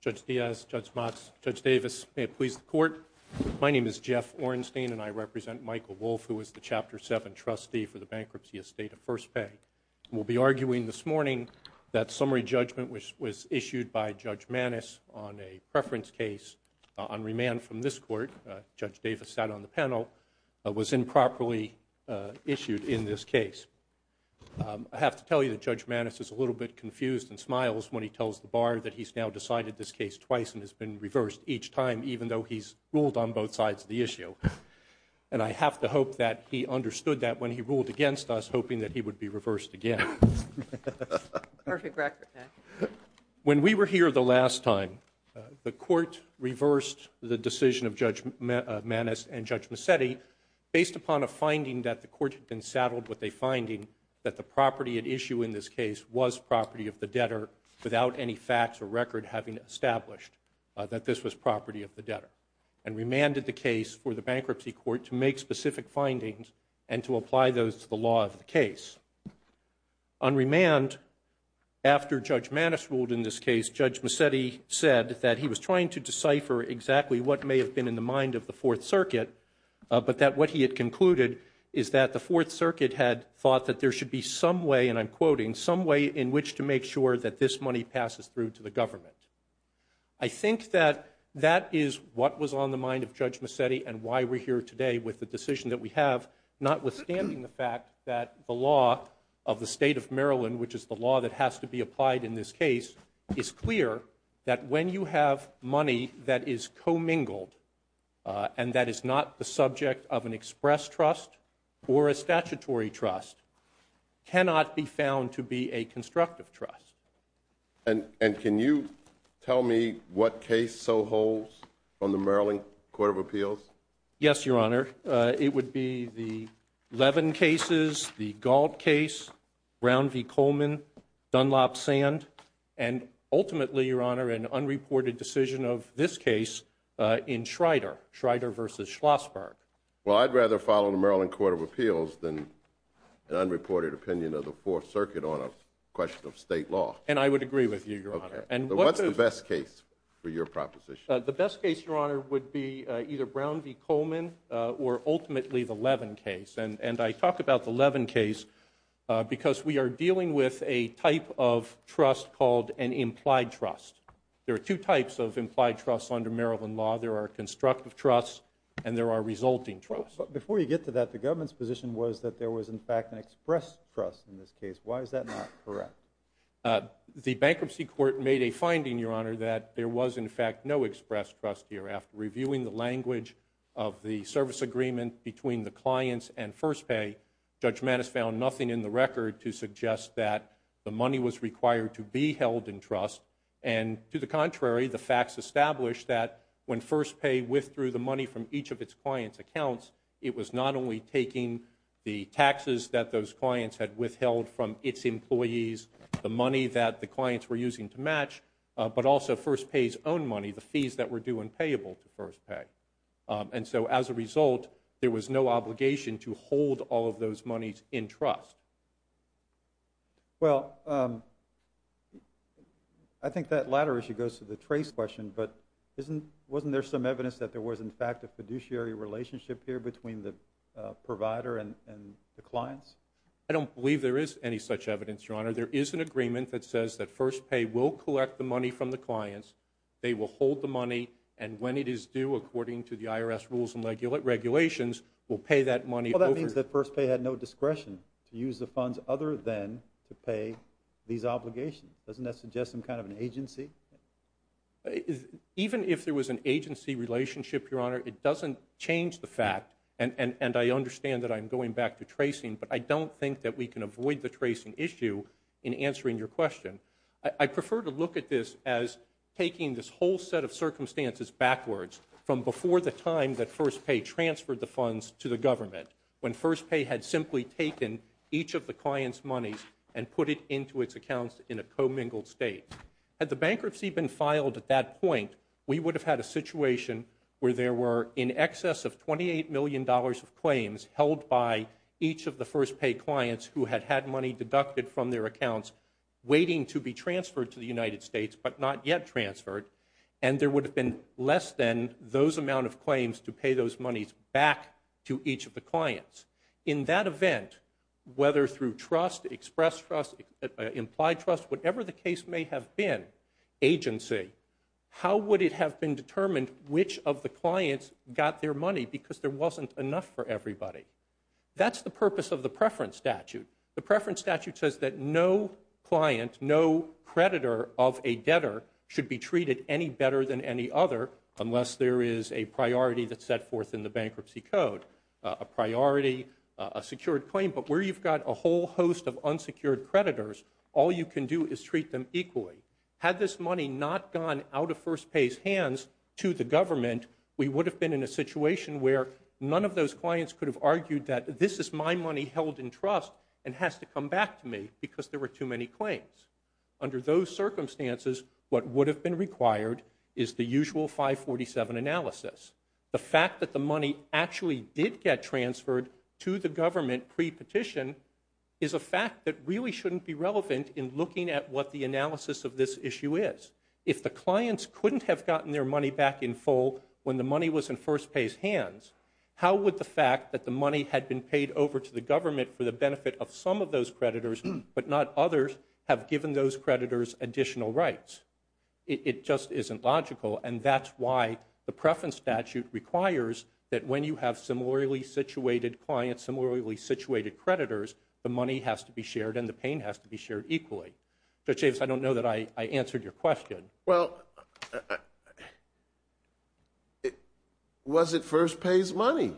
Judge Diaz, Judge Motz, Judge Davis, may it please the Court, my name is Jeff Ornstein and I represent Michael Wolff, who is the Chapter 7 trustee for the bankruptcy estate of First Pay. We'll be arguing this morning that summary judgment was issued by Judge Maness on a preference case on remand from this Court, Judge Davis sat on the panel, was improperly issued in this case. I have to tell you that Judge Maness is a little bit confused and smiles when he tells the Bar that he's now decided this case twice and has been reversed each time, even though he's ruled on both sides of the issue. And I have to hope that he understood that when he ruled against us, hoping that he would be reversed again. When we were here the last time, the Court reversed the decision of Judge Maness and Judge Mazzetti based upon a finding that the Court had been saddled with a finding that the property at issue in this case was property of the debtor without any facts or record having established that this was property of the debtor, and remanded the case for the On remand, after Judge Maness ruled in this case, Judge Mazzetti said that he was trying to decipher exactly what may have been in the mind of the Fourth Circuit, but that what he had concluded is that the Fourth Circuit had thought that there should be some way, and I'm quoting, some way in which to make sure that this money passes through to the government. I think that that is what was on the mind of Judge Mazzetti and why we're here today with the decision that we have, notwithstanding the fact that the law of the State of Maryland, which is the law that has to be applied in this case, is clear that when you have money that is commingled, and that is not the subject of an express trust or a statutory trust, cannot be found to be a constructive trust. And can you tell me what case so holds on the Maryland Court of Appeals? Yes, Your Honor. It would be the Levin cases, the Gault case, Brown v. Coleman, Dunlop-Sand, and ultimately, Your Honor, an unreported decision of this case in Schrader, Schrader v. Schlossberg. Well, I'd rather follow the Maryland Court of Appeals than an unreported opinion of the Fourth Circuit on a question of state law. And I would agree with you, Your Honor. And what's the best case for your proposition? The best case, Your Honor, would be either Brown v. Coleman or ultimately the Levin case. And I talk about the Levin case because we are dealing with a type of trust called an implied trust. There are two types of implied trusts under Maryland law. There are constructive trusts and there are resulting trusts. Before you get to that, the government's position was that there was, in fact, an express trust in this case. Why is that not correct? The Bankruptcy Court made a finding, Your Honor, that there was, in fact, no express trust here. After reviewing the language of the service agreement between the clients and First Pay, Judge Mattis found nothing in the record to suggest that the money was required to be held in trust. And to the contrary, the facts established that when First Pay withdrew the money from each of its clients' accounts, it was not only taking the taxes that those clients had the money that the clients were using to match, but also First Pay's own money, the fees that were due and payable to First Pay. And so, as a result, there was no obligation to hold all of those monies in trust. Well, I think that latter issue goes to the trace question, but wasn't there some evidence that there was, in fact, a fiduciary relationship here between the provider and the clients? I don't believe there is any such evidence, Your Honor. There is an agreement that says that First Pay will collect the money from the clients, they will hold the money, and when it is due according to the IRS rules and regulations, will pay that money over. Well, that means that First Pay had no discretion to use the funds other than to pay these obligations. Doesn't that suggest some kind of an agency? Even if there was an agency relationship, Your Honor, it doesn't change the fact, and I understand that I'm going back to tracing, but I don't think that we can avoid the tracing issue in answering your question. I prefer to look at this as taking this whole set of circumstances backwards from before the time that First Pay transferred the funds to the government, when First Pay had simply taken each of the clients' monies and put it into its accounts in a commingled state. Had the bankruptcy been filed at that point, we would have had a situation where there were in excess of $28 million of claims held by each of the First Pay clients who had had money deducted from their accounts waiting to be transferred to the United States, but not yet transferred, and there would have been less than those amount of claims to pay those monies back to each of the clients. In that event, whether through trust, express trust, implied trust, whatever the case may have been, agency, how would it have been determined which of the clients got their money because there wasn't enough for everybody? That's the purpose of the preference statute. The preference statute says that no client, no creditor of a debtor should be treated any better than any other unless there is a priority that's set forth in the bankruptcy code. A priority, a secured claim, but where you've got a whole host of unsecured creditors, all you can do is treat them equally. Had this money not gone out of First Pay's hands to the government, we would have been in a situation where none of those clients could have argued that this is my money held in trust and has to come back to me because there were too many claims. Under those circumstances, what would have been required is the usual 547 analysis. The fact that the money actually did get transferred to the government pre-petition is a fact that really shouldn't be relevant in looking at what the analysis of this issue is. If the clients couldn't have gotten their money back in full when the money was in First Pay's hands, how would the fact that the money had been paid over to the government for the benefit of some of those creditors, but not others, have given those creditors additional rights? It just isn't logical and that's why the preference statute requires that when you have similarly situated clients, similarly situated creditors, the money has to be shared and the pain has to be shared equally. Judge Davis, I don't know that I answered your question. Well, was it First Pay's money?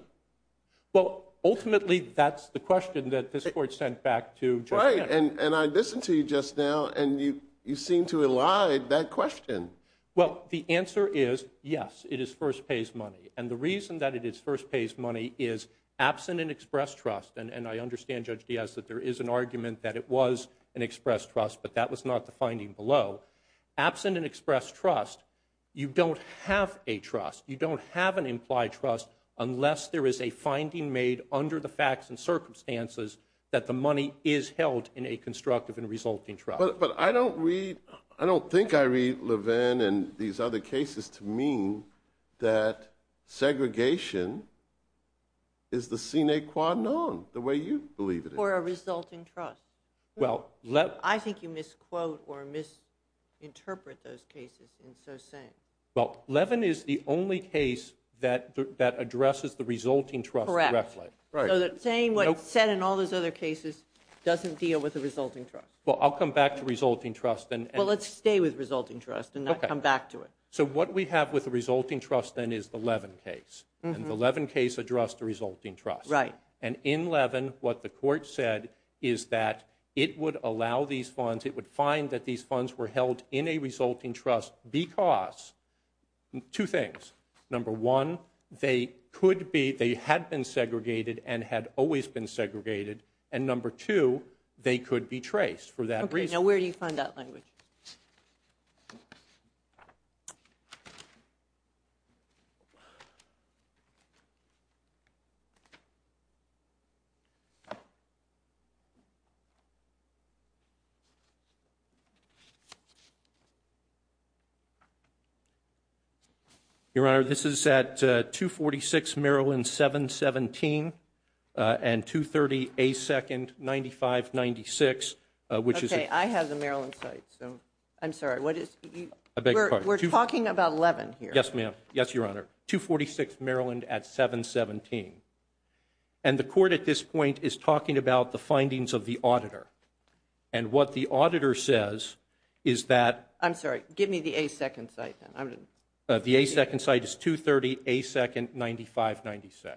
Well, ultimately that's the question that this Court sent back to Judge D'Ess. And I listened to you just now and you seem to have lied that question. Well, the answer is yes, it is First Pay's money. And the reason that it is First Pay's money is absent an express trust, and I understand Judge D'Ess that there is an argument that it was an express trust, but that was not the finding below. Absent an express trust, you don't have a trust, you don't have an implied trust unless there is a finding made under the facts and circumstances that the money is held in a constructive and resulting trust. But I don't read, I don't think I read Levin and these other cases to mean that segregation is the sine qua non, the way you believe it is. Or a resulting trust. I think you misquote or misinterpret those cases in so saying. Well, Levin is the only case that addresses the resulting trust directly. Correct. So saying what's said in all those other cases doesn't deal with the resulting trust. Well, I'll come back to resulting trust. Well, let's stay with resulting trust and not come back to it. So what we have with the resulting trust then is the Levin case. And the Levin case addressed the resulting trust. And in Levin, what the court said is that it would allow these funds, it would find that these funds were held in a resulting trust because two things. Number one, they could be, they had been segregated and had always been segregated. And number two, they could be traced for that reason. Okay, now where do you find that language? Your Honor, this is at 246 Maryland 717 and 230 A2nd 9596, which is- Okay, I have the Maryland site, so I'm sorry. We're talking about Levin here. Yes, ma'am. Yes, Your Honor. 246 Maryland at 717. And the court at this point is talking about the findings of the auditor. And what the auditor says is that- I'm sorry. Give me the A2nd site then. The A2nd site is 230 A2nd 9596.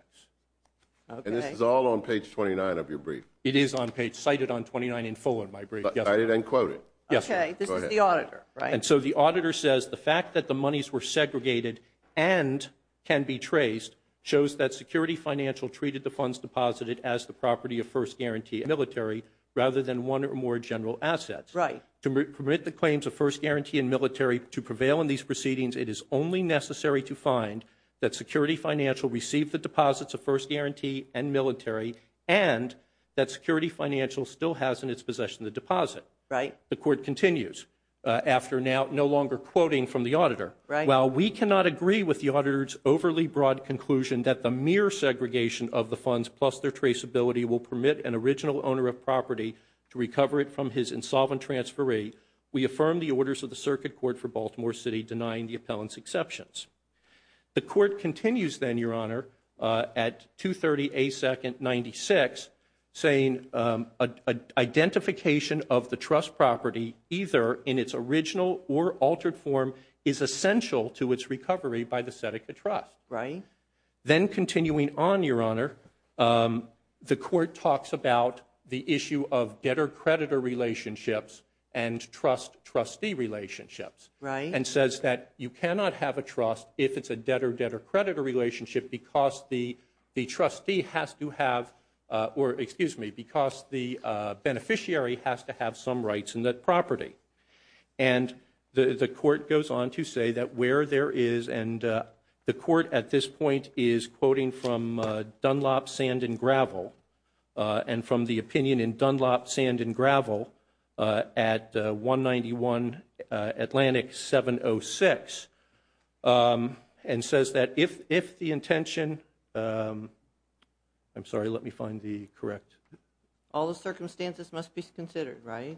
Okay. And this is all on page 29 of your brief. It is on page, cited on 29 in full in my brief. Yes, ma'am. Cited and quoted. Yes, ma'am. Go ahead. Okay, this is the auditor, right? Yes, ma'am. And so the auditor says the fact that the monies were segregated and can be traced shows that Security Financial treated the funds deposited as the property of First Guarantee military rather than one or more general assets. Right. To permit the claims of First Guarantee and military to prevail in these proceedings, it is only necessary to find that Security Financial received the deposits of First Guarantee and military and that Security Financial still has in its possession the deposit. Right. The court continues after now no longer quoting from the auditor. Right. While we cannot agree with the auditor's overly broad conclusion that the mere segregation of the funds plus their traceability will permit an original owner of property to recover it from his insolvent transferee, we affirm the orders of the Circuit Court for Baltimore City denying the appellant's exceptions. The court continues then, Your Honor, at 230 A2nd 96 saying identification of the trust property either in its original or altered form is essential to its recovery by the Seneca Trust. Right. Then continuing on, Your Honor, the court talks about the issue of debtor-creditor relationships and trust-trustee relationships. Right. And says that you cannot have a trust if it's a debtor-debtor-creditor relationship because the trustee has to have, or excuse me, because the beneficiary has to have some rights in that property. And the court goes on to say that where there is, and the court at this point is quoting from Dunlop Sand and Gravel and from the opinion in Dunlop Sand and Gravel at 191 Atlantic 706 and says that if the intention, I'm sorry, let me find the correct. All the circumstances must be considered, right?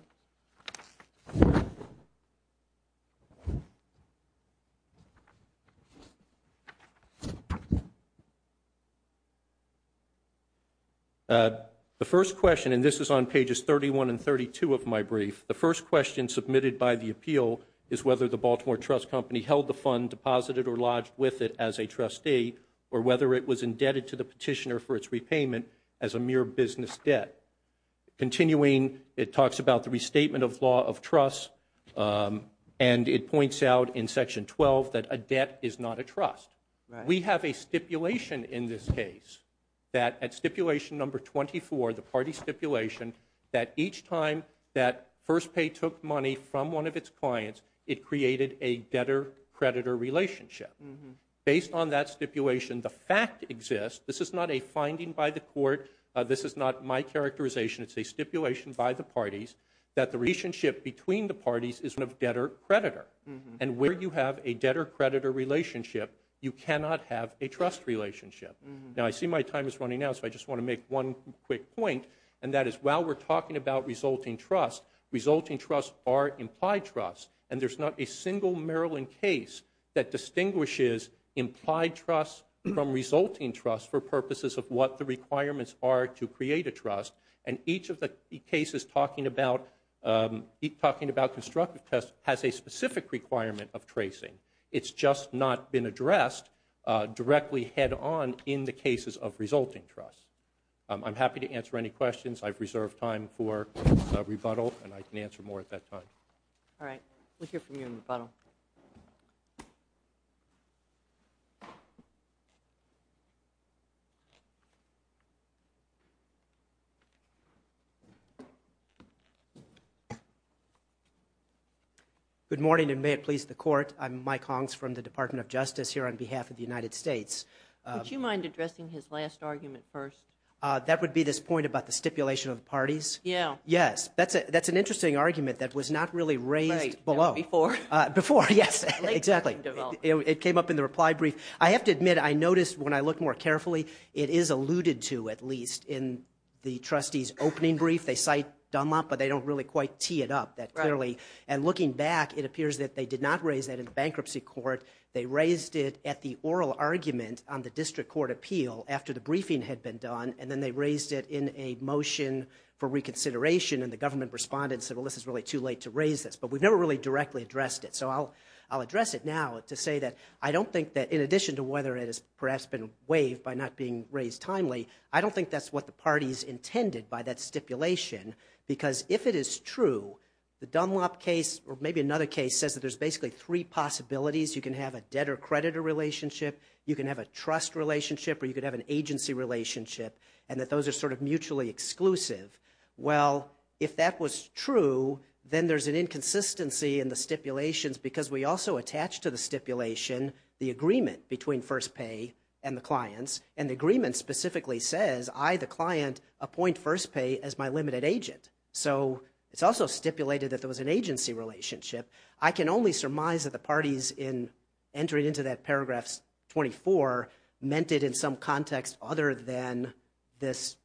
The first question, and this is on pages 31 and 32 of my brief, the first question submitted by the appeal is whether the Baltimore Trust Company held the fund, deposited or lodged with it as a trustee, or whether it was indebted to the petitioner for its repayment as a mere business debt. Continuing, it talks about the restatement of law of trust, and it points out in section 12 that a debt is not a trust. We have a stipulation in this case that at stipulation number 24, the party stipulation, that each time that First Pay took money from one of its clients, it created a debtor-creditor relationship. Based on that stipulation, the fact exists. This is not a finding by the court. This is not my characterization. It's a stipulation by the parties that the relationship between the parties is of debtor-creditor. And where you have a debtor-creditor relationship, you cannot have a trust relationship. Now, I see my time is running out, so I just want to make one quick point, and that is while we're talking about resulting trust, resulting trust are implied trust, and there's not a single Maryland case that distinguishes implied trust from resulting trust for purposes of what the requirements are to create a trust. And each of the cases talking about constructive trust has a specific requirement of tracing. It's just not been addressed directly head-on in the cases of resulting trust. I'm happy to answer any questions. I've reserved time for rebuttal, and I can answer more at that time. All right. We'll hear from you in rebuttal. Good morning, and may it please the court. I'm Mike Hongs from the Department of Justice here on behalf of the United States. Would you mind addressing his last argument first? That would be this point about the stipulation of the parties? Yeah. Yes. That's an interesting argument that was not really raised below. Right. Not before. Before, yes. Exactly. It came up in the reply brief. I have to admit, I noticed when I looked more carefully, it is alluded to, at least, in the trustee's opening brief. They cite Dunlop, but they don't really quite tee it up that clearly. And looking back, it appears that they did not raise that in the bankruptcy court. They raised it at the oral argument on the district court appeal after the briefing had been done, and then they raised it in a motion for reconsideration, and the government responded and said, well, this is really too late to raise this. But we've never really directly addressed it, so I'll address it now to say that I don't think, in addition to whether it has perhaps been waived by not being raised timely, I don't think that's what the parties intended by that stipulation, because if it is true, the Dunlop case, or maybe another case, says that there's basically three possibilities. You can have a debtor-creditor relationship, you can have a trust relationship, or you could have an agency relationship, and that those are sort of mutually exclusive. Well, if that was true, then there's an inconsistency in the stipulations, because we also attach to the stipulation the agreement between First Pay and the clients, and the agreement specifically says, I, the client, appoint First Pay as my limited agent. So it's also stipulated that there was an agency relationship. I can only surmise that the parties, in entering into that paragraph 24, meant it in some context other than this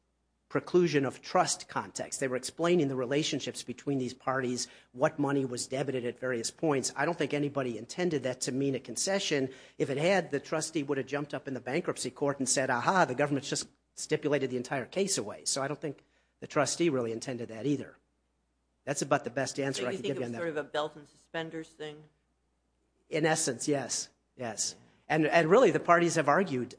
preclusion of trust context. They were explaining the relationships between these parties, what money was debited at various points. I don't think anybody intended that to mean a concession. If it had, the trustee would have jumped up in the bankruptcy court and said, aha, the government's just stipulated the entire case away. So I don't think the trustee really intended that either. That's about the best answer I can give you on that. Do you think it was sort of a belt and suspenders thing? In essence, yes. Yes. And really, the parties have argued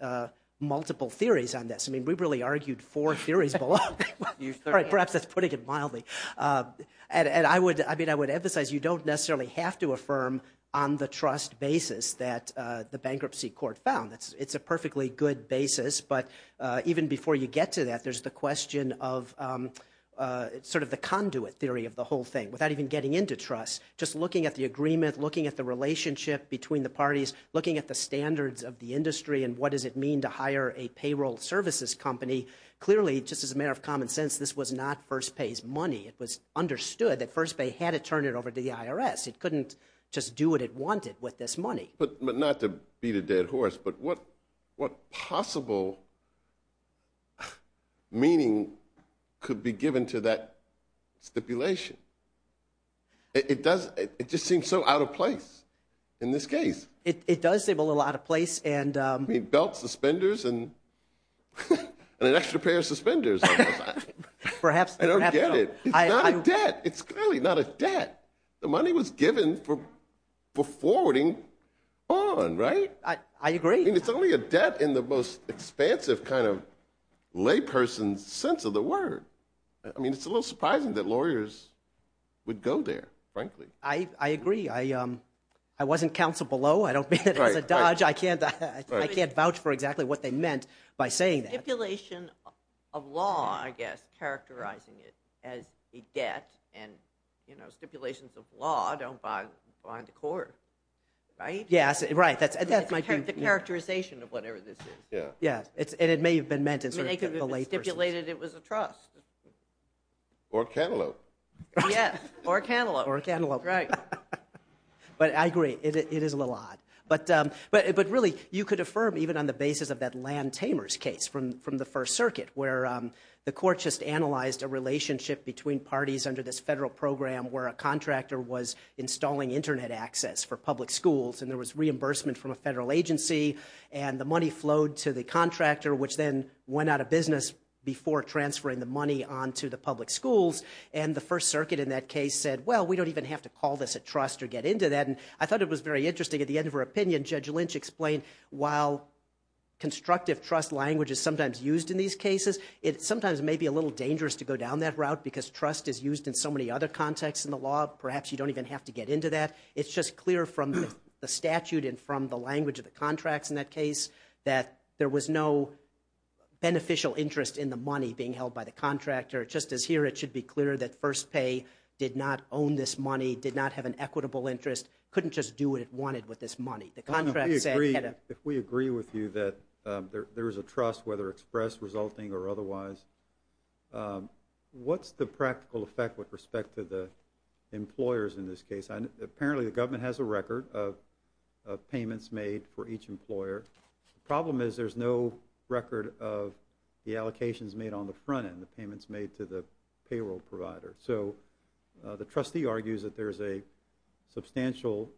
multiple theories on this. I mean, we've really argued four theories below. Perhaps that's putting it mildly. And I would emphasize, you don't necessarily have to affirm on the trust basis that the bankruptcy court found. It's a perfectly good basis. But even before you get to that, there's the question of sort of the conduit theory of the whole thing. Without even getting into trust, just looking at the agreement, looking at the relationship between the parties, looking at the standards of the industry and what does it mean to hire a payroll services company, clearly, just as a matter of common sense, this was not first pays money. It was understood that First Bay had to turn it over to the IRS. It couldn't just do what it wanted with this money. But not to beat a dead horse, but what possible meaning could be given to that stipulation? It does, it just seems so out of place in this case. It does seem a little out of place. I mean, belt, suspenders, and an extra pair of suspenders. Perhaps. I don't get it. It's not a debt. It's clearly not a debt. The money was given for forwarding on, right? I agree. I mean, it's only a debt in the most expansive kind of layperson's sense of the word. I mean, it's a little surprising that lawyers would go there, frankly. I agree. I wasn't counsel below. I don't mean it as a dodge. I can't vouch for exactly what they meant by saying that. Stipulation of law, I guess, characterizing it as a debt, and stipulations of law don't bind the court, right? Yes, right. That's my view. It's the characterization of whatever this is. Yeah. And it may have been meant as a layperson. It may have been stipulated it was a trust. Or cantaloupe. Yes. Or cantaloupe. Or cantaloupe. Right. But I agree. It is a little odd. But really, you could affirm even on the basis of that Land Tamers case from the First Circuit, where the court just analyzed a relationship between parties under this federal program where a contractor was installing Internet access for public schools, and there was reimbursement from a federal agency, and the money flowed to the contractor, which then went out of business before transferring the money onto the public schools. And the First Circuit in that case said, well, we don't even have to call this a trust or get into that. And I thought it was very interesting. At the end of her opinion, Judge Lynch explained, while constructive trust language is sometimes used in these cases, it sometimes may be a little dangerous to go down that route because trust is used in so many other contexts in the law. Perhaps you don't even have to get into that. It's just clear from the statute and from the language of the contracts in that case that there was no beneficial interest in the money being held by the contractor. Just as here, it should be clear that First Pay did not own this money, did not have an interest in it. Couldn't just do what it wanted with this money. The contractor said, get it. If we agree with you that there is a trust, whether express, resulting, or otherwise, what's the practical effect with respect to the employers in this case? Apparently, the government has a record of payments made for each employer. The problem is there's no record of the allocations made on the front end, the payments made to the payroll provider. So, the trustee argues that there's a substantial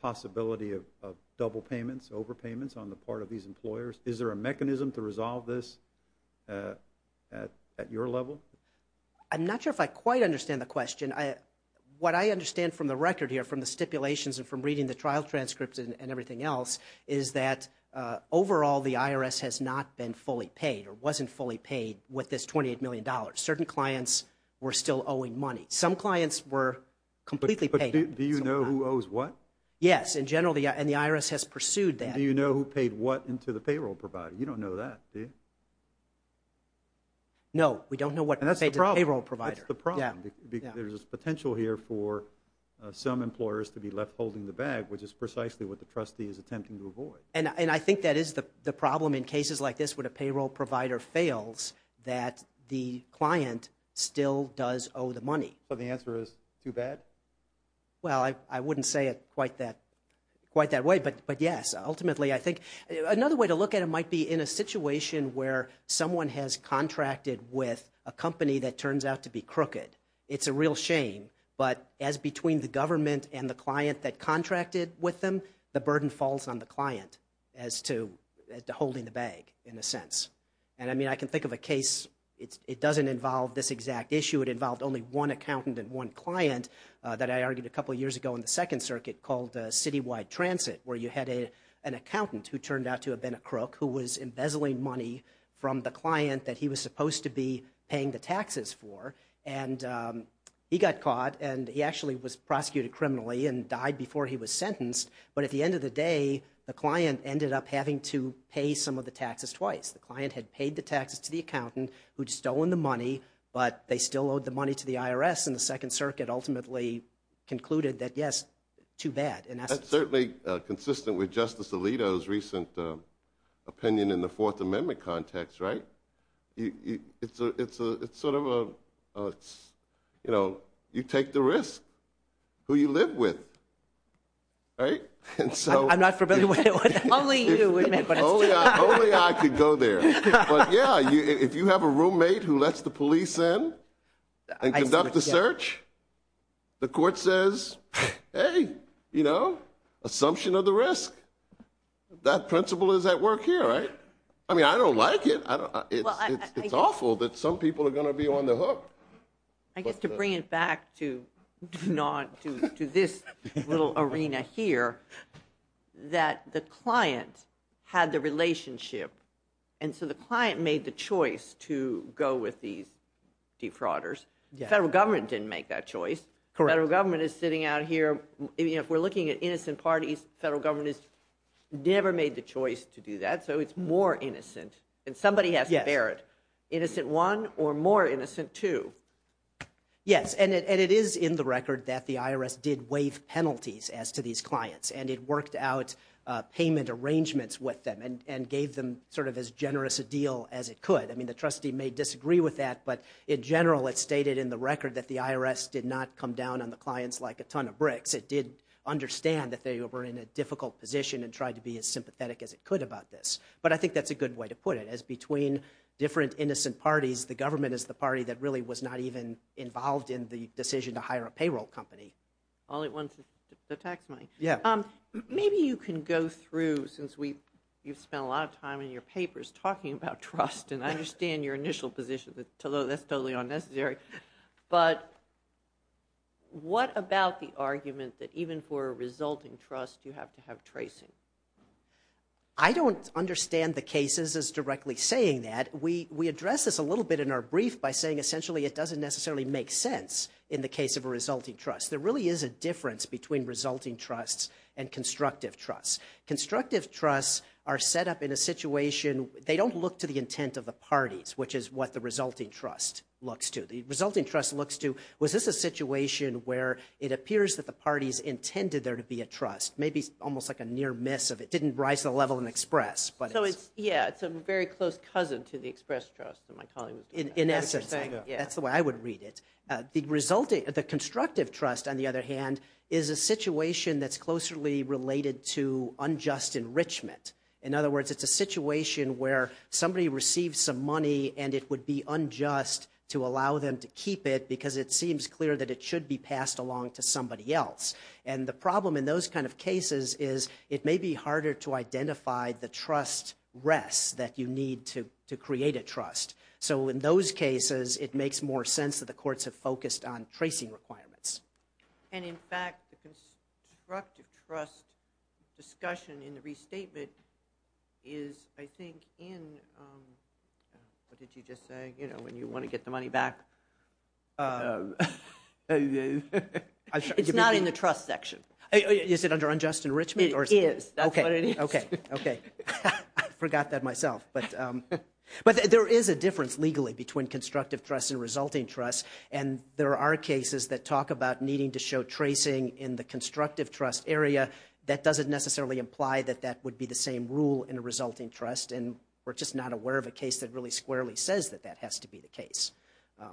possibility of double payments, overpayments on the part of these employers. Is there a mechanism to resolve this at your level? I'm not sure if I quite understand the question. What I understand from the record here, from the stipulations and from reading the trial transcripts and everything else, is that overall the IRS has not been fully paid or wasn't fully paid with this $28 million. Certain clients were still owing money. Some clients were completely paid. Do you know who owes what? Yes, in general, and the IRS has pursued that. Do you know who paid what into the payroll provider? You don't know that, do you? No, we don't know what was paid to the payroll provider. That's the problem. There's this potential here for some employers to be left holding the bag, which is precisely what the trustee is attempting to avoid. I think that is the problem in cases like this, when a payroll provider fails, that the client still does owe the money. So the answer is too bad? Well, I wouldn't say it quite that way, but yes, ultimately, I think another way to look at it might be in a situation where someone has contracted with a company that turns out to be crooked. It's a real shame, but as between the government and the client that contracted with them, the burden falls on the client as to holding the bag, in a sense. And I mean, I can think of a case, it doesn't involve this exact issue, it involved only one accountant and one client that I argued a couple of years ago in the Second Circuit called Citywide Transit, where you had an accountant who turned out to have been a crook, who was embezzling money from the client that he was supposed to be paying the taxes for, and he got caught, and he actually was prosecuted criminally and died before he was sentenced, but at the end of the day, the client ended up having to pay some of the taxes twice. The client had paid the taxes to the accountant, who'd stolen the money, but they still owed the money to the IRS, and the Second Circuit ultimately concluded that, yes, too bad, in essence. That's certainly consistent with Justice Alito's recent opinion in the Fourth Amendment context, right? It's sort of a, you know, you take the risk, who you live with, right? And so... I'm not familiar with it. Only you, wait a minute, but it's true. Only I could go there, but yeah, if you have a roommate who lets the police in and conduct the search, the court says, hey, you know, assumption of the risk, that principle is at work here, right? I mean, I don't like it, I don't... It's awful that some people are going to be on the hook. I guess to bring it back to this little arena here, that the client had the relationship, and so the client made the choice to go with these defrauders. Federal government didn't make that choice. Federal government is sitting out here, you know, if we're looking at innocent parties, federal government has never made the choice to do that, so it's more innocent, and somebody has to bear it. Yes. Innocent one, or more innocent two? Yes, and it is in the record that the IRS did waive penalties as to these clients, and it worked out payment arrangements with them, and gave them sort of as generous a deal as it could. I mean, the trustee may disagree with that, but in general, it's stated in the record that the IRS did not come down on the clients like a ton of bricks. It did understand that they were in a difficult position and tried to be as sympathetic as it could about this. But I think that's a good way to put it, as between different innocent parties, the government is the party that really was not even involved in the decision to hire a payroll company. All it wants is the tax money. Yeah. Maybe you can go through, since you've spent a lot of time in your papers talking about trust, and I understand your initial position, that that's totally unnecessary, but what about the argument that even for a resulting trust, you have to have tracing? I don't understand the cases as directly saying that. We address this a little bit in our brief by saying essentially it doesn't necessarily make sense in the case of a resulting trust. There really is a difference between resulting trusts and constructive trusts. Constructive trusts are set up in a situation, they don't look to the intent of the parties, which is what the resulting trust looks to. The resulting trust looks to, was this a situation where it appears that the parties intended there to be a trust? Maybe almost like a near miss, it didn't rise to the level of an express, but it's- Yeah, it's a very close cousin to the express trust that my colleague was talking about. In essence. That's the way I would read it. The constructive trust, on the other hand, is a situation that's closely related to unjust enrichment. In other words, it's a situation where somebody receives some money and it would be unjust to allow them to keep it because it seems clear that it should be passed along to somebody else. The problem in those kinds of cases is it may be harder to identify the trust rests that you need to create a trust. In those cases, it makes more sense that the courts have focused on tracing requirements. In fact, the constructive trust discussion in the restatement is, I think, in- what did you just say? When you want to get the money back. It's not in the trust section. Is it under unjust enrichment? It is. That's what it is. Okay. Okay. I forgot that myself, but there is a difference legally between constructive trust and resulting trust and there are cases that talk about needing to show tracing in the constructive trust area that doesn't necessarily imply that that would be the same rule in a resulting trust and we're just not aware of a case that really squarely says that that has to be the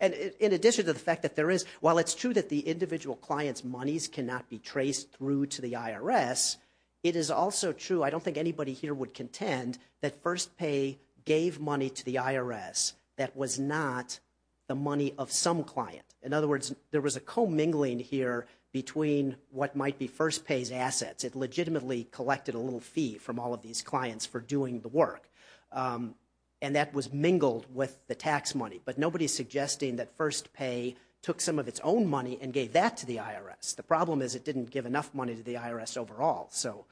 And in addition to the fact that there is, while it's true that the individual client's monies cannot be traced through to the IRS, it is also true, I don't think anybody here would contend, that FirstPay gave money to the IRS that was not the money of some client. In other words, there was a commingling here between what might be FirstPay's assets. It legitimately collected a little fee from all of these clients for doing the work. And that was mingled with the tax money, but nobody's suggesting that FirstPay took some of its own money and gave that to the IRS. The problem is it didn't give enough money to the IRS overall. So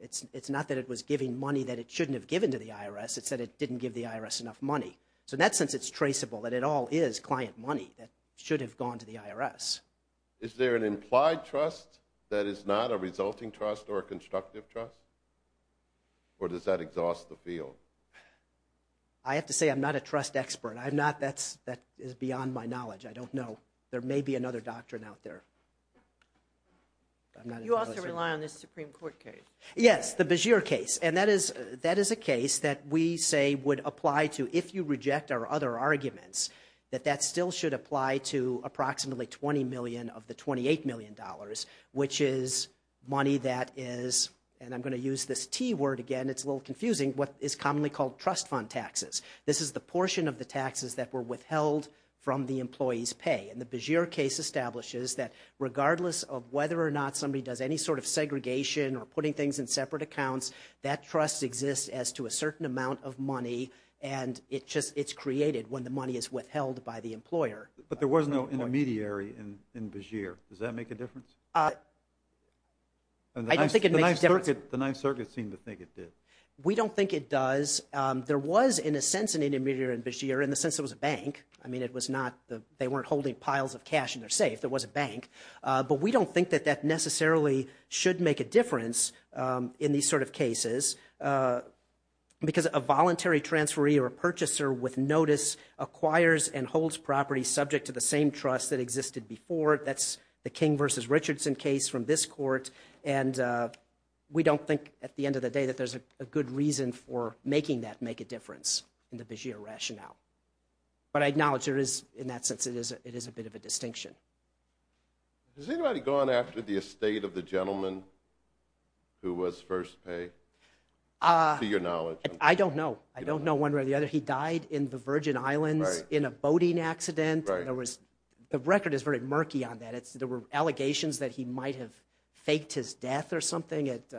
it's not that it was giving money that it shouldn't have given to the IRS, it's that it didn't give the IRS enough money. So in that sense, it's traceable that it all is client money that should have gone to the IRS. Is there an implied trust that is not a resulting trust or a constructive trust? Or does that exhaust the field? I have to say I'm not a trust expert. That is beyond my knowledge, I don't know. There may be another doctrine out there. You also rely on this Supreme Court case. Yes, the Beshear case. And that is a case that we say would apply to, if you reject our other arguments, that that still should apply to approximately $20 million of the $28 million, which is money that is, and I'm going to use this T word again, it's a little confusing, what is commonly called trust fund taxes. This is the portion of the taxes that were withheld from the employee's pay. And the Beshear case establishes that regardless of whether or not somebody does any sort of segregation or putting things in separate accounts, that trust exists as to a certain amount of money and it's created when the money is withheld by the employer. But there was no intermediary in Beshear. Does that make a difference? I don't think it makes a difference. The Ninth Circuit seemed to think it did. We don't think it does. There was, in a sense, an intermediary in Beshear, in the sense it was a bank. I mean, it was not, they weren't holding piles of cash in their safe, there was a bank. But we don't think that that necessarily should make a difference in these sort of cases. Because a voluntary transferee or a purchaser with notice acquires and holds property subject to the same trust that existed before. That's the King v. Richardson case from this court. And we don't think, at the end of the day, that there's a good reason for making that make a difference in the Beshear rationale. But I acknowledge there is, in that sense, it is a bit of a distinction. Has anybody gone after the estate of the gentleman who was first pay, to your knowledge? I don't know. I don't know one way or the other. He died in the Virgin Islands in a boating accident. The record is very murky on that. There were allegations that he might have faked his death or something. It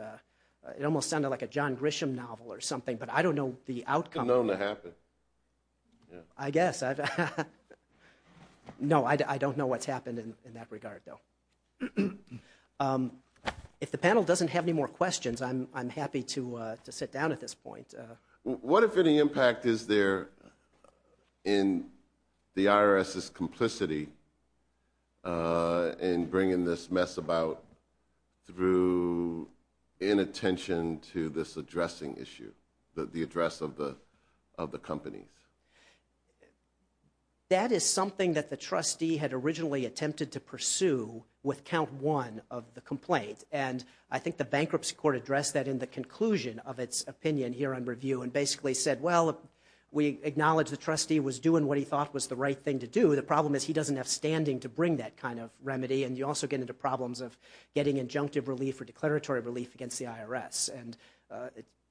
almost sounded like a John Grisham novel or something. But I don't know the outcome. It's unknown to happen. I guess. No, I don't know what's happened in that regard, though. If the panel doesn't have any more questions, I'm happy to sit down at this point. What, if any, impact is there in the IRS's complicity in bringing this mess about through inattention to this addressing issue, the address of the companies? That is something that the trustee had originally attempted to pursue with count one of the complaint. I think the bankruptcy court addressed that in the conclusion of its opinion here on review and basically said, well, we acknowledge the trustee was doing what he thought was the right thing to do. The problem is he doesn't have standing to bring that kind of remedy. You also get into problems of getting injunctive relief or declaratory relief against the IRS.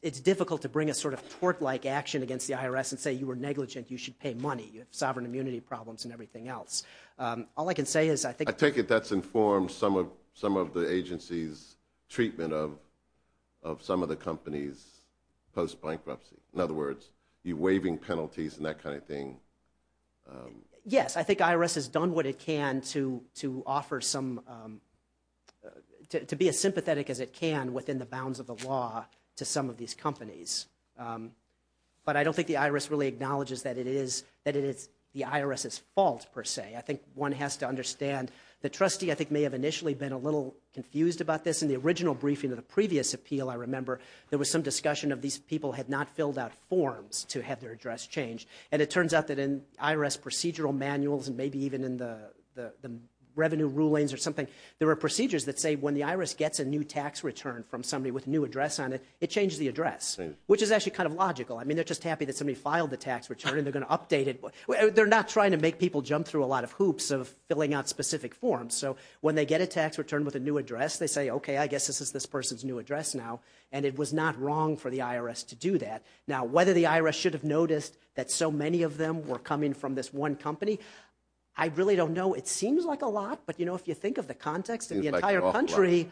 It's difficult to bring a sort of tort-like action against the IRS and say, you were negligent. You should pay money. You have sovereign immunity problems and everything else. All I can say is I think- Is this the IRS's treatment of some of the companies post-bankruptcy? In other words, you're waiving penalties and that kind of thing. Yes. I think IRS has done what it can to offer some, to be as sympathetic as it can within the bounds of the law to some of these companies. But I don't think the IRS really acknowledges that it is the IRS's fault, per se. I think one has to understand the trustee, I think, may have initially been a little confused about this. In the original briefing of the previous appeal, I remember there was some discussion of these people had not filled out forms to have their address changed. And it turns out that in IRS procedural manuals and maybe even in the revenue rulings or something, there were procedures that say when the IRS gets a new tax return from somebody with a new address on it, it changes the address, which is actually kind of logical. I mean, they're just happy that somebody filed the tax return and they're going to update it. They're not trying to make people jump through a lot of hoops of filling out specific forms. So when they get a tax return with a new address, they say, OK, I guess this is this person's new address now. And it was not wrong for the IRS to do that. Now, whether the IRS should have noticed that so many of them were coming from this one company, I really don't know. It seems like a lot. But, you know, if you think of the context of the entire country,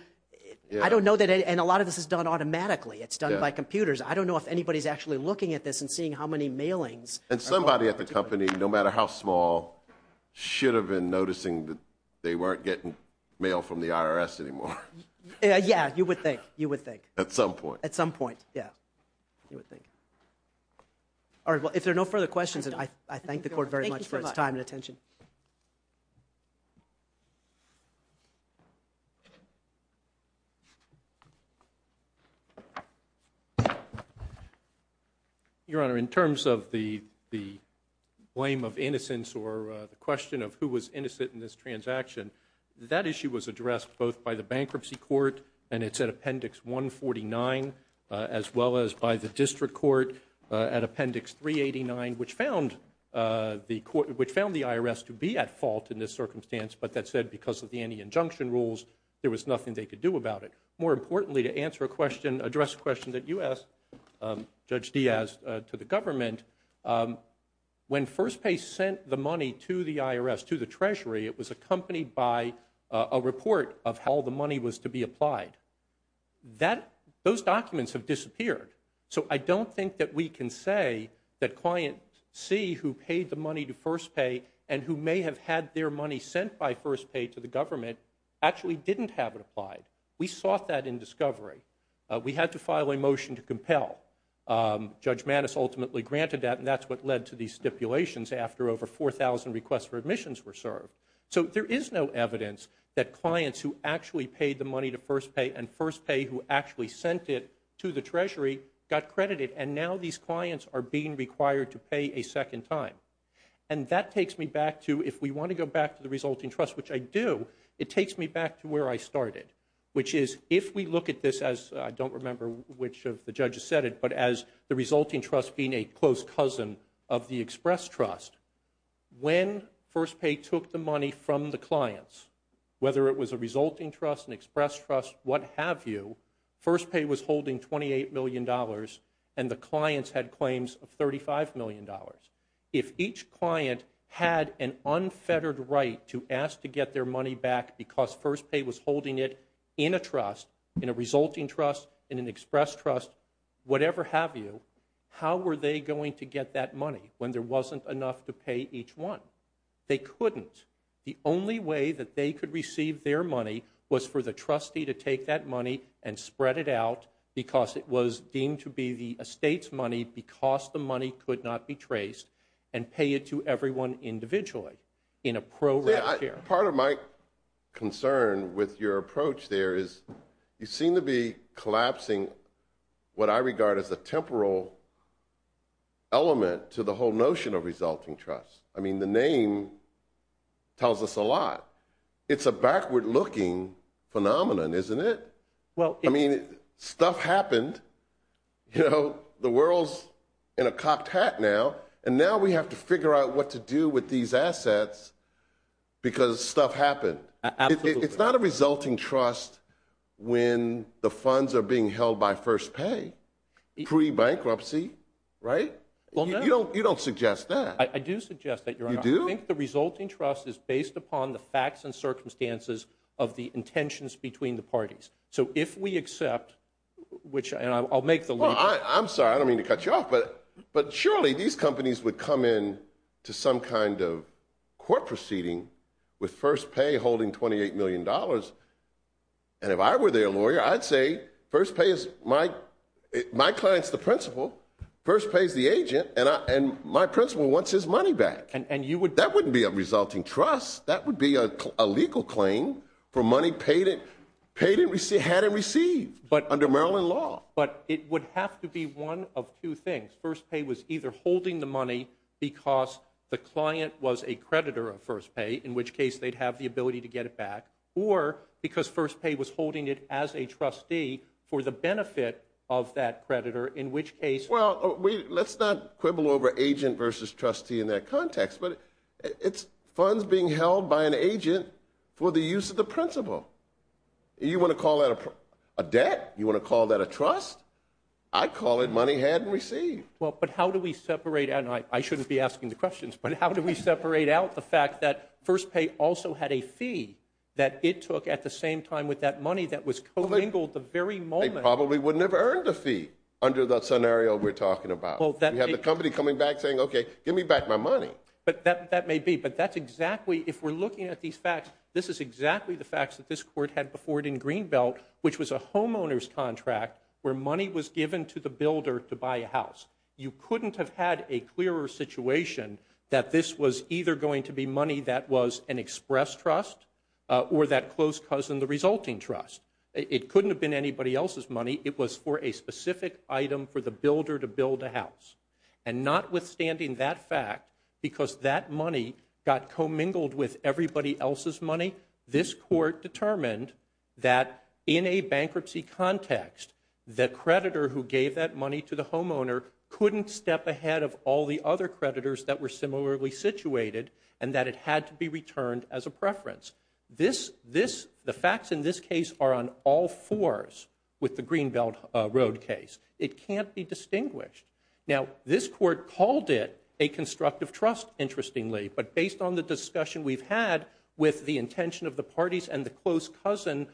I don't know that. And a lot of this is done automatically. It's done by computers. I don't know if anybody's actually looking at this and seeing how many mailings. And somebody at the company, no matter how small, should have been noticing that they weren't getting mail from the IRS anymore. Yeah, you would think. You would think. At some point. At some point. Yeah. You would think. All right. Well, if there are no further questions, I thank the court very much for its time and attention. Your Honor, in terms of the blame of innocence or the question of who was innocent in this transaction, that issue was addressed both by the Bankruptcy Court, and it's at Appendix 149, as well as by the District Court at Appendix 389, which found the IRS to be at fault in this circumstance. But that said, because of the anti-injunction rules, there was nothing they could do about it. More importantly, to answer a question, address a question that you asked, Judge Diaz, to the government, when FirstPay sent the money to the IRS, to the Treasury, it was accompanied by a report of how the money was to be applied. Those documents have disappeared. So I don't think that we can say that Client C, who paid the money to FirstPay, and who may have had their money sent by FirstPay to the government, actually didn't have it applied. We sought that in discovery. We had to file a motion to compel. Judge Mattis ultimately granted that, and that's what led to these stipulations after over 4,000 requests for admissions were served. So there is no evidence that clients who actually paid the money to FirstPay and FirstPay who actually sent it to the Treasury got credited, and now these clients are being required to pay a second time. And that takes me back to, if we want to go back to the resulting trust, which I do, it takes me back to where I started, which is, if we look at this as, I don't remember which of the judges said it, but as the resulting trust being a close cousin of the Express Trust, when FirstPay took the money from the clients, whether it was a resulting trust, an Express Trust, what have you, FirstPay was holding $28 million, and the clients had claims of $35 million. If each client had an unfettered right to ask to get their money back because FirstPay was holding it in a trust, in a resulting trust, in an Express Trust, whatever have you, how were they going to get that money when there wasn't enough to pay each one? They couldn't. The only way that they could receive their money was for the trustee to take that money and spread it out, because it was deemed to be the estate's money because the money could not be traced, and pay it to everyone individually in a program here. Part of my concern with your approach there is, you seem to be collapsing what I regard as a temporal element to the whole notion of resulting trust. I mean, the name tells us a lot. It's a backward-looking phenomenon, isn't it? I mean, stuff happened, you know, the world's in a cocked hat now, and now we have to figure out what to do with these assets because stuff happened. It's not a resulting trust when the funds are being held by FirstPay, pre-bankruptcy, right? Well, no. You don't suggest that. I do suggest that, Your Honor. You do? I think the resulting trust is based upon the facts and circumstances of the intentions between the parties. So if we accept, which, and I'll make the leap. Well, I'm sorry, I don't mean to cut you off, but surely these companies would come in to some kind of court proceeding with FirstPay holding $28 million, and if I were their lawyer, I'd say FirstPay is my, my client's the principal, FirstPay's the agent, and my principal wants his money back. And you would... That wouldn't be a resulting trust. That would be a legal claim for money paid and received, had and received under Maryland law. But it would have to be one of two things. FirstPay was either holding the money because the client was a creditor of FirstPay, in which case they'd have the ability to get it back, or because FirstPay was holding it as a trustee for the benefit of that creditor, in which case... Well, let's not quibble over agent versus trustee in that context, but it's funds being held by an agent for the use of the principal. You want to call that a debt? You want to call that a trust? I'd call it money had and received. Well, but how do we separate, and I shouldn't be asking the questions, but how do we separate out the fact that FirstPay also had a fee that it took at the same time with that money that was co-mingled the very moment... They probably would never have earned a fee under the scenario we're talking about. We have the company coming back saying, okay, give me back my money. But that may be, but that's exactly, if we're looking at these facts, this is exactly the court had before it in Greenbelt, which was a homeowner's contract where money was given to the builder to buy a house. You couldn't have had a clearer situation that this was either going to be money that was an express trust or that close cousin, the resulting trust. It couldn't have been anybody else's money. It was for a specific item for the builder to build a house. And notwithstanding that fact, because that money got co-mingled with everybody else's money, the court determined that in a bankruptcy context, the creditor who gave that money to the homeowner couldn't step ahead of all the other creditors that were similarly situated and that it had to be returned as a preference. The facts in this case are on all fours with the Greenbelt Road case. It can't be distinguished. Now this court called it a constructive trust, interestingly, but based on the discussion we've had with the intention of the parties and the close cousin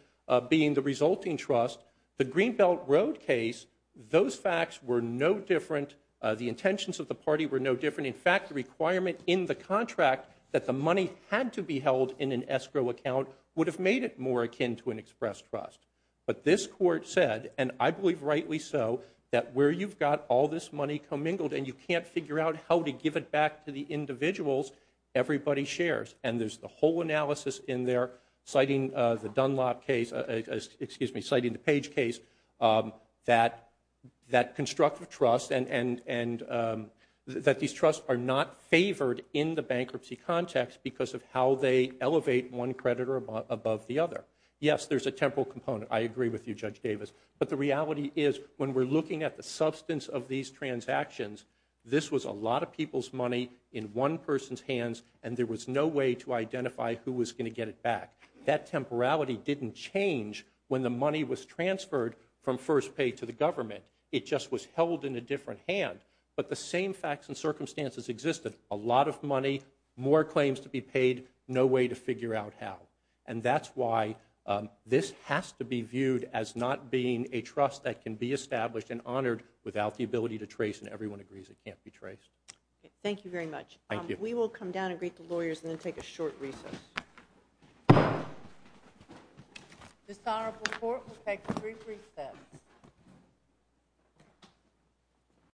being the resulting trust, the Greenbelt Road case, those facts were no different, the intentions of the party were no different. In fact, the requirement in the contract that the money had to be held in an escrow account would have made it more akin to an express trust. But this court said, and I believe rightly so, that where you've got all this money co-mingled and you can't figure out how to give it back to the individuals, everybody shares. And there's the whole analysis in there, citing the Dunlop case, excuse me, citing the Page case, that constructive trust and that these trusts are not favored in the bankruptcy context because of how they elevate one creditor above the other. Yes, there's a temporal component, I agree with you, Judge Davis, but the reality is when we're looking at the substance of these transactions, this was a lot of people's money in one person's hands and there was no way to identify who was going to get it back. That temporality didn't change when the money was transferred from first pay to the government. It just was held in a different hand. But the same facts and circumstances existed. A lot of money, more claims to be paid, no way to figure out how. And that's why this has to be viewed as not being a trust that can be established and honored without the ability to trace, and everyone agrees it can't be traced. Thank you very much. Thank you. We will come down and greet the lawyers and then take a short recess.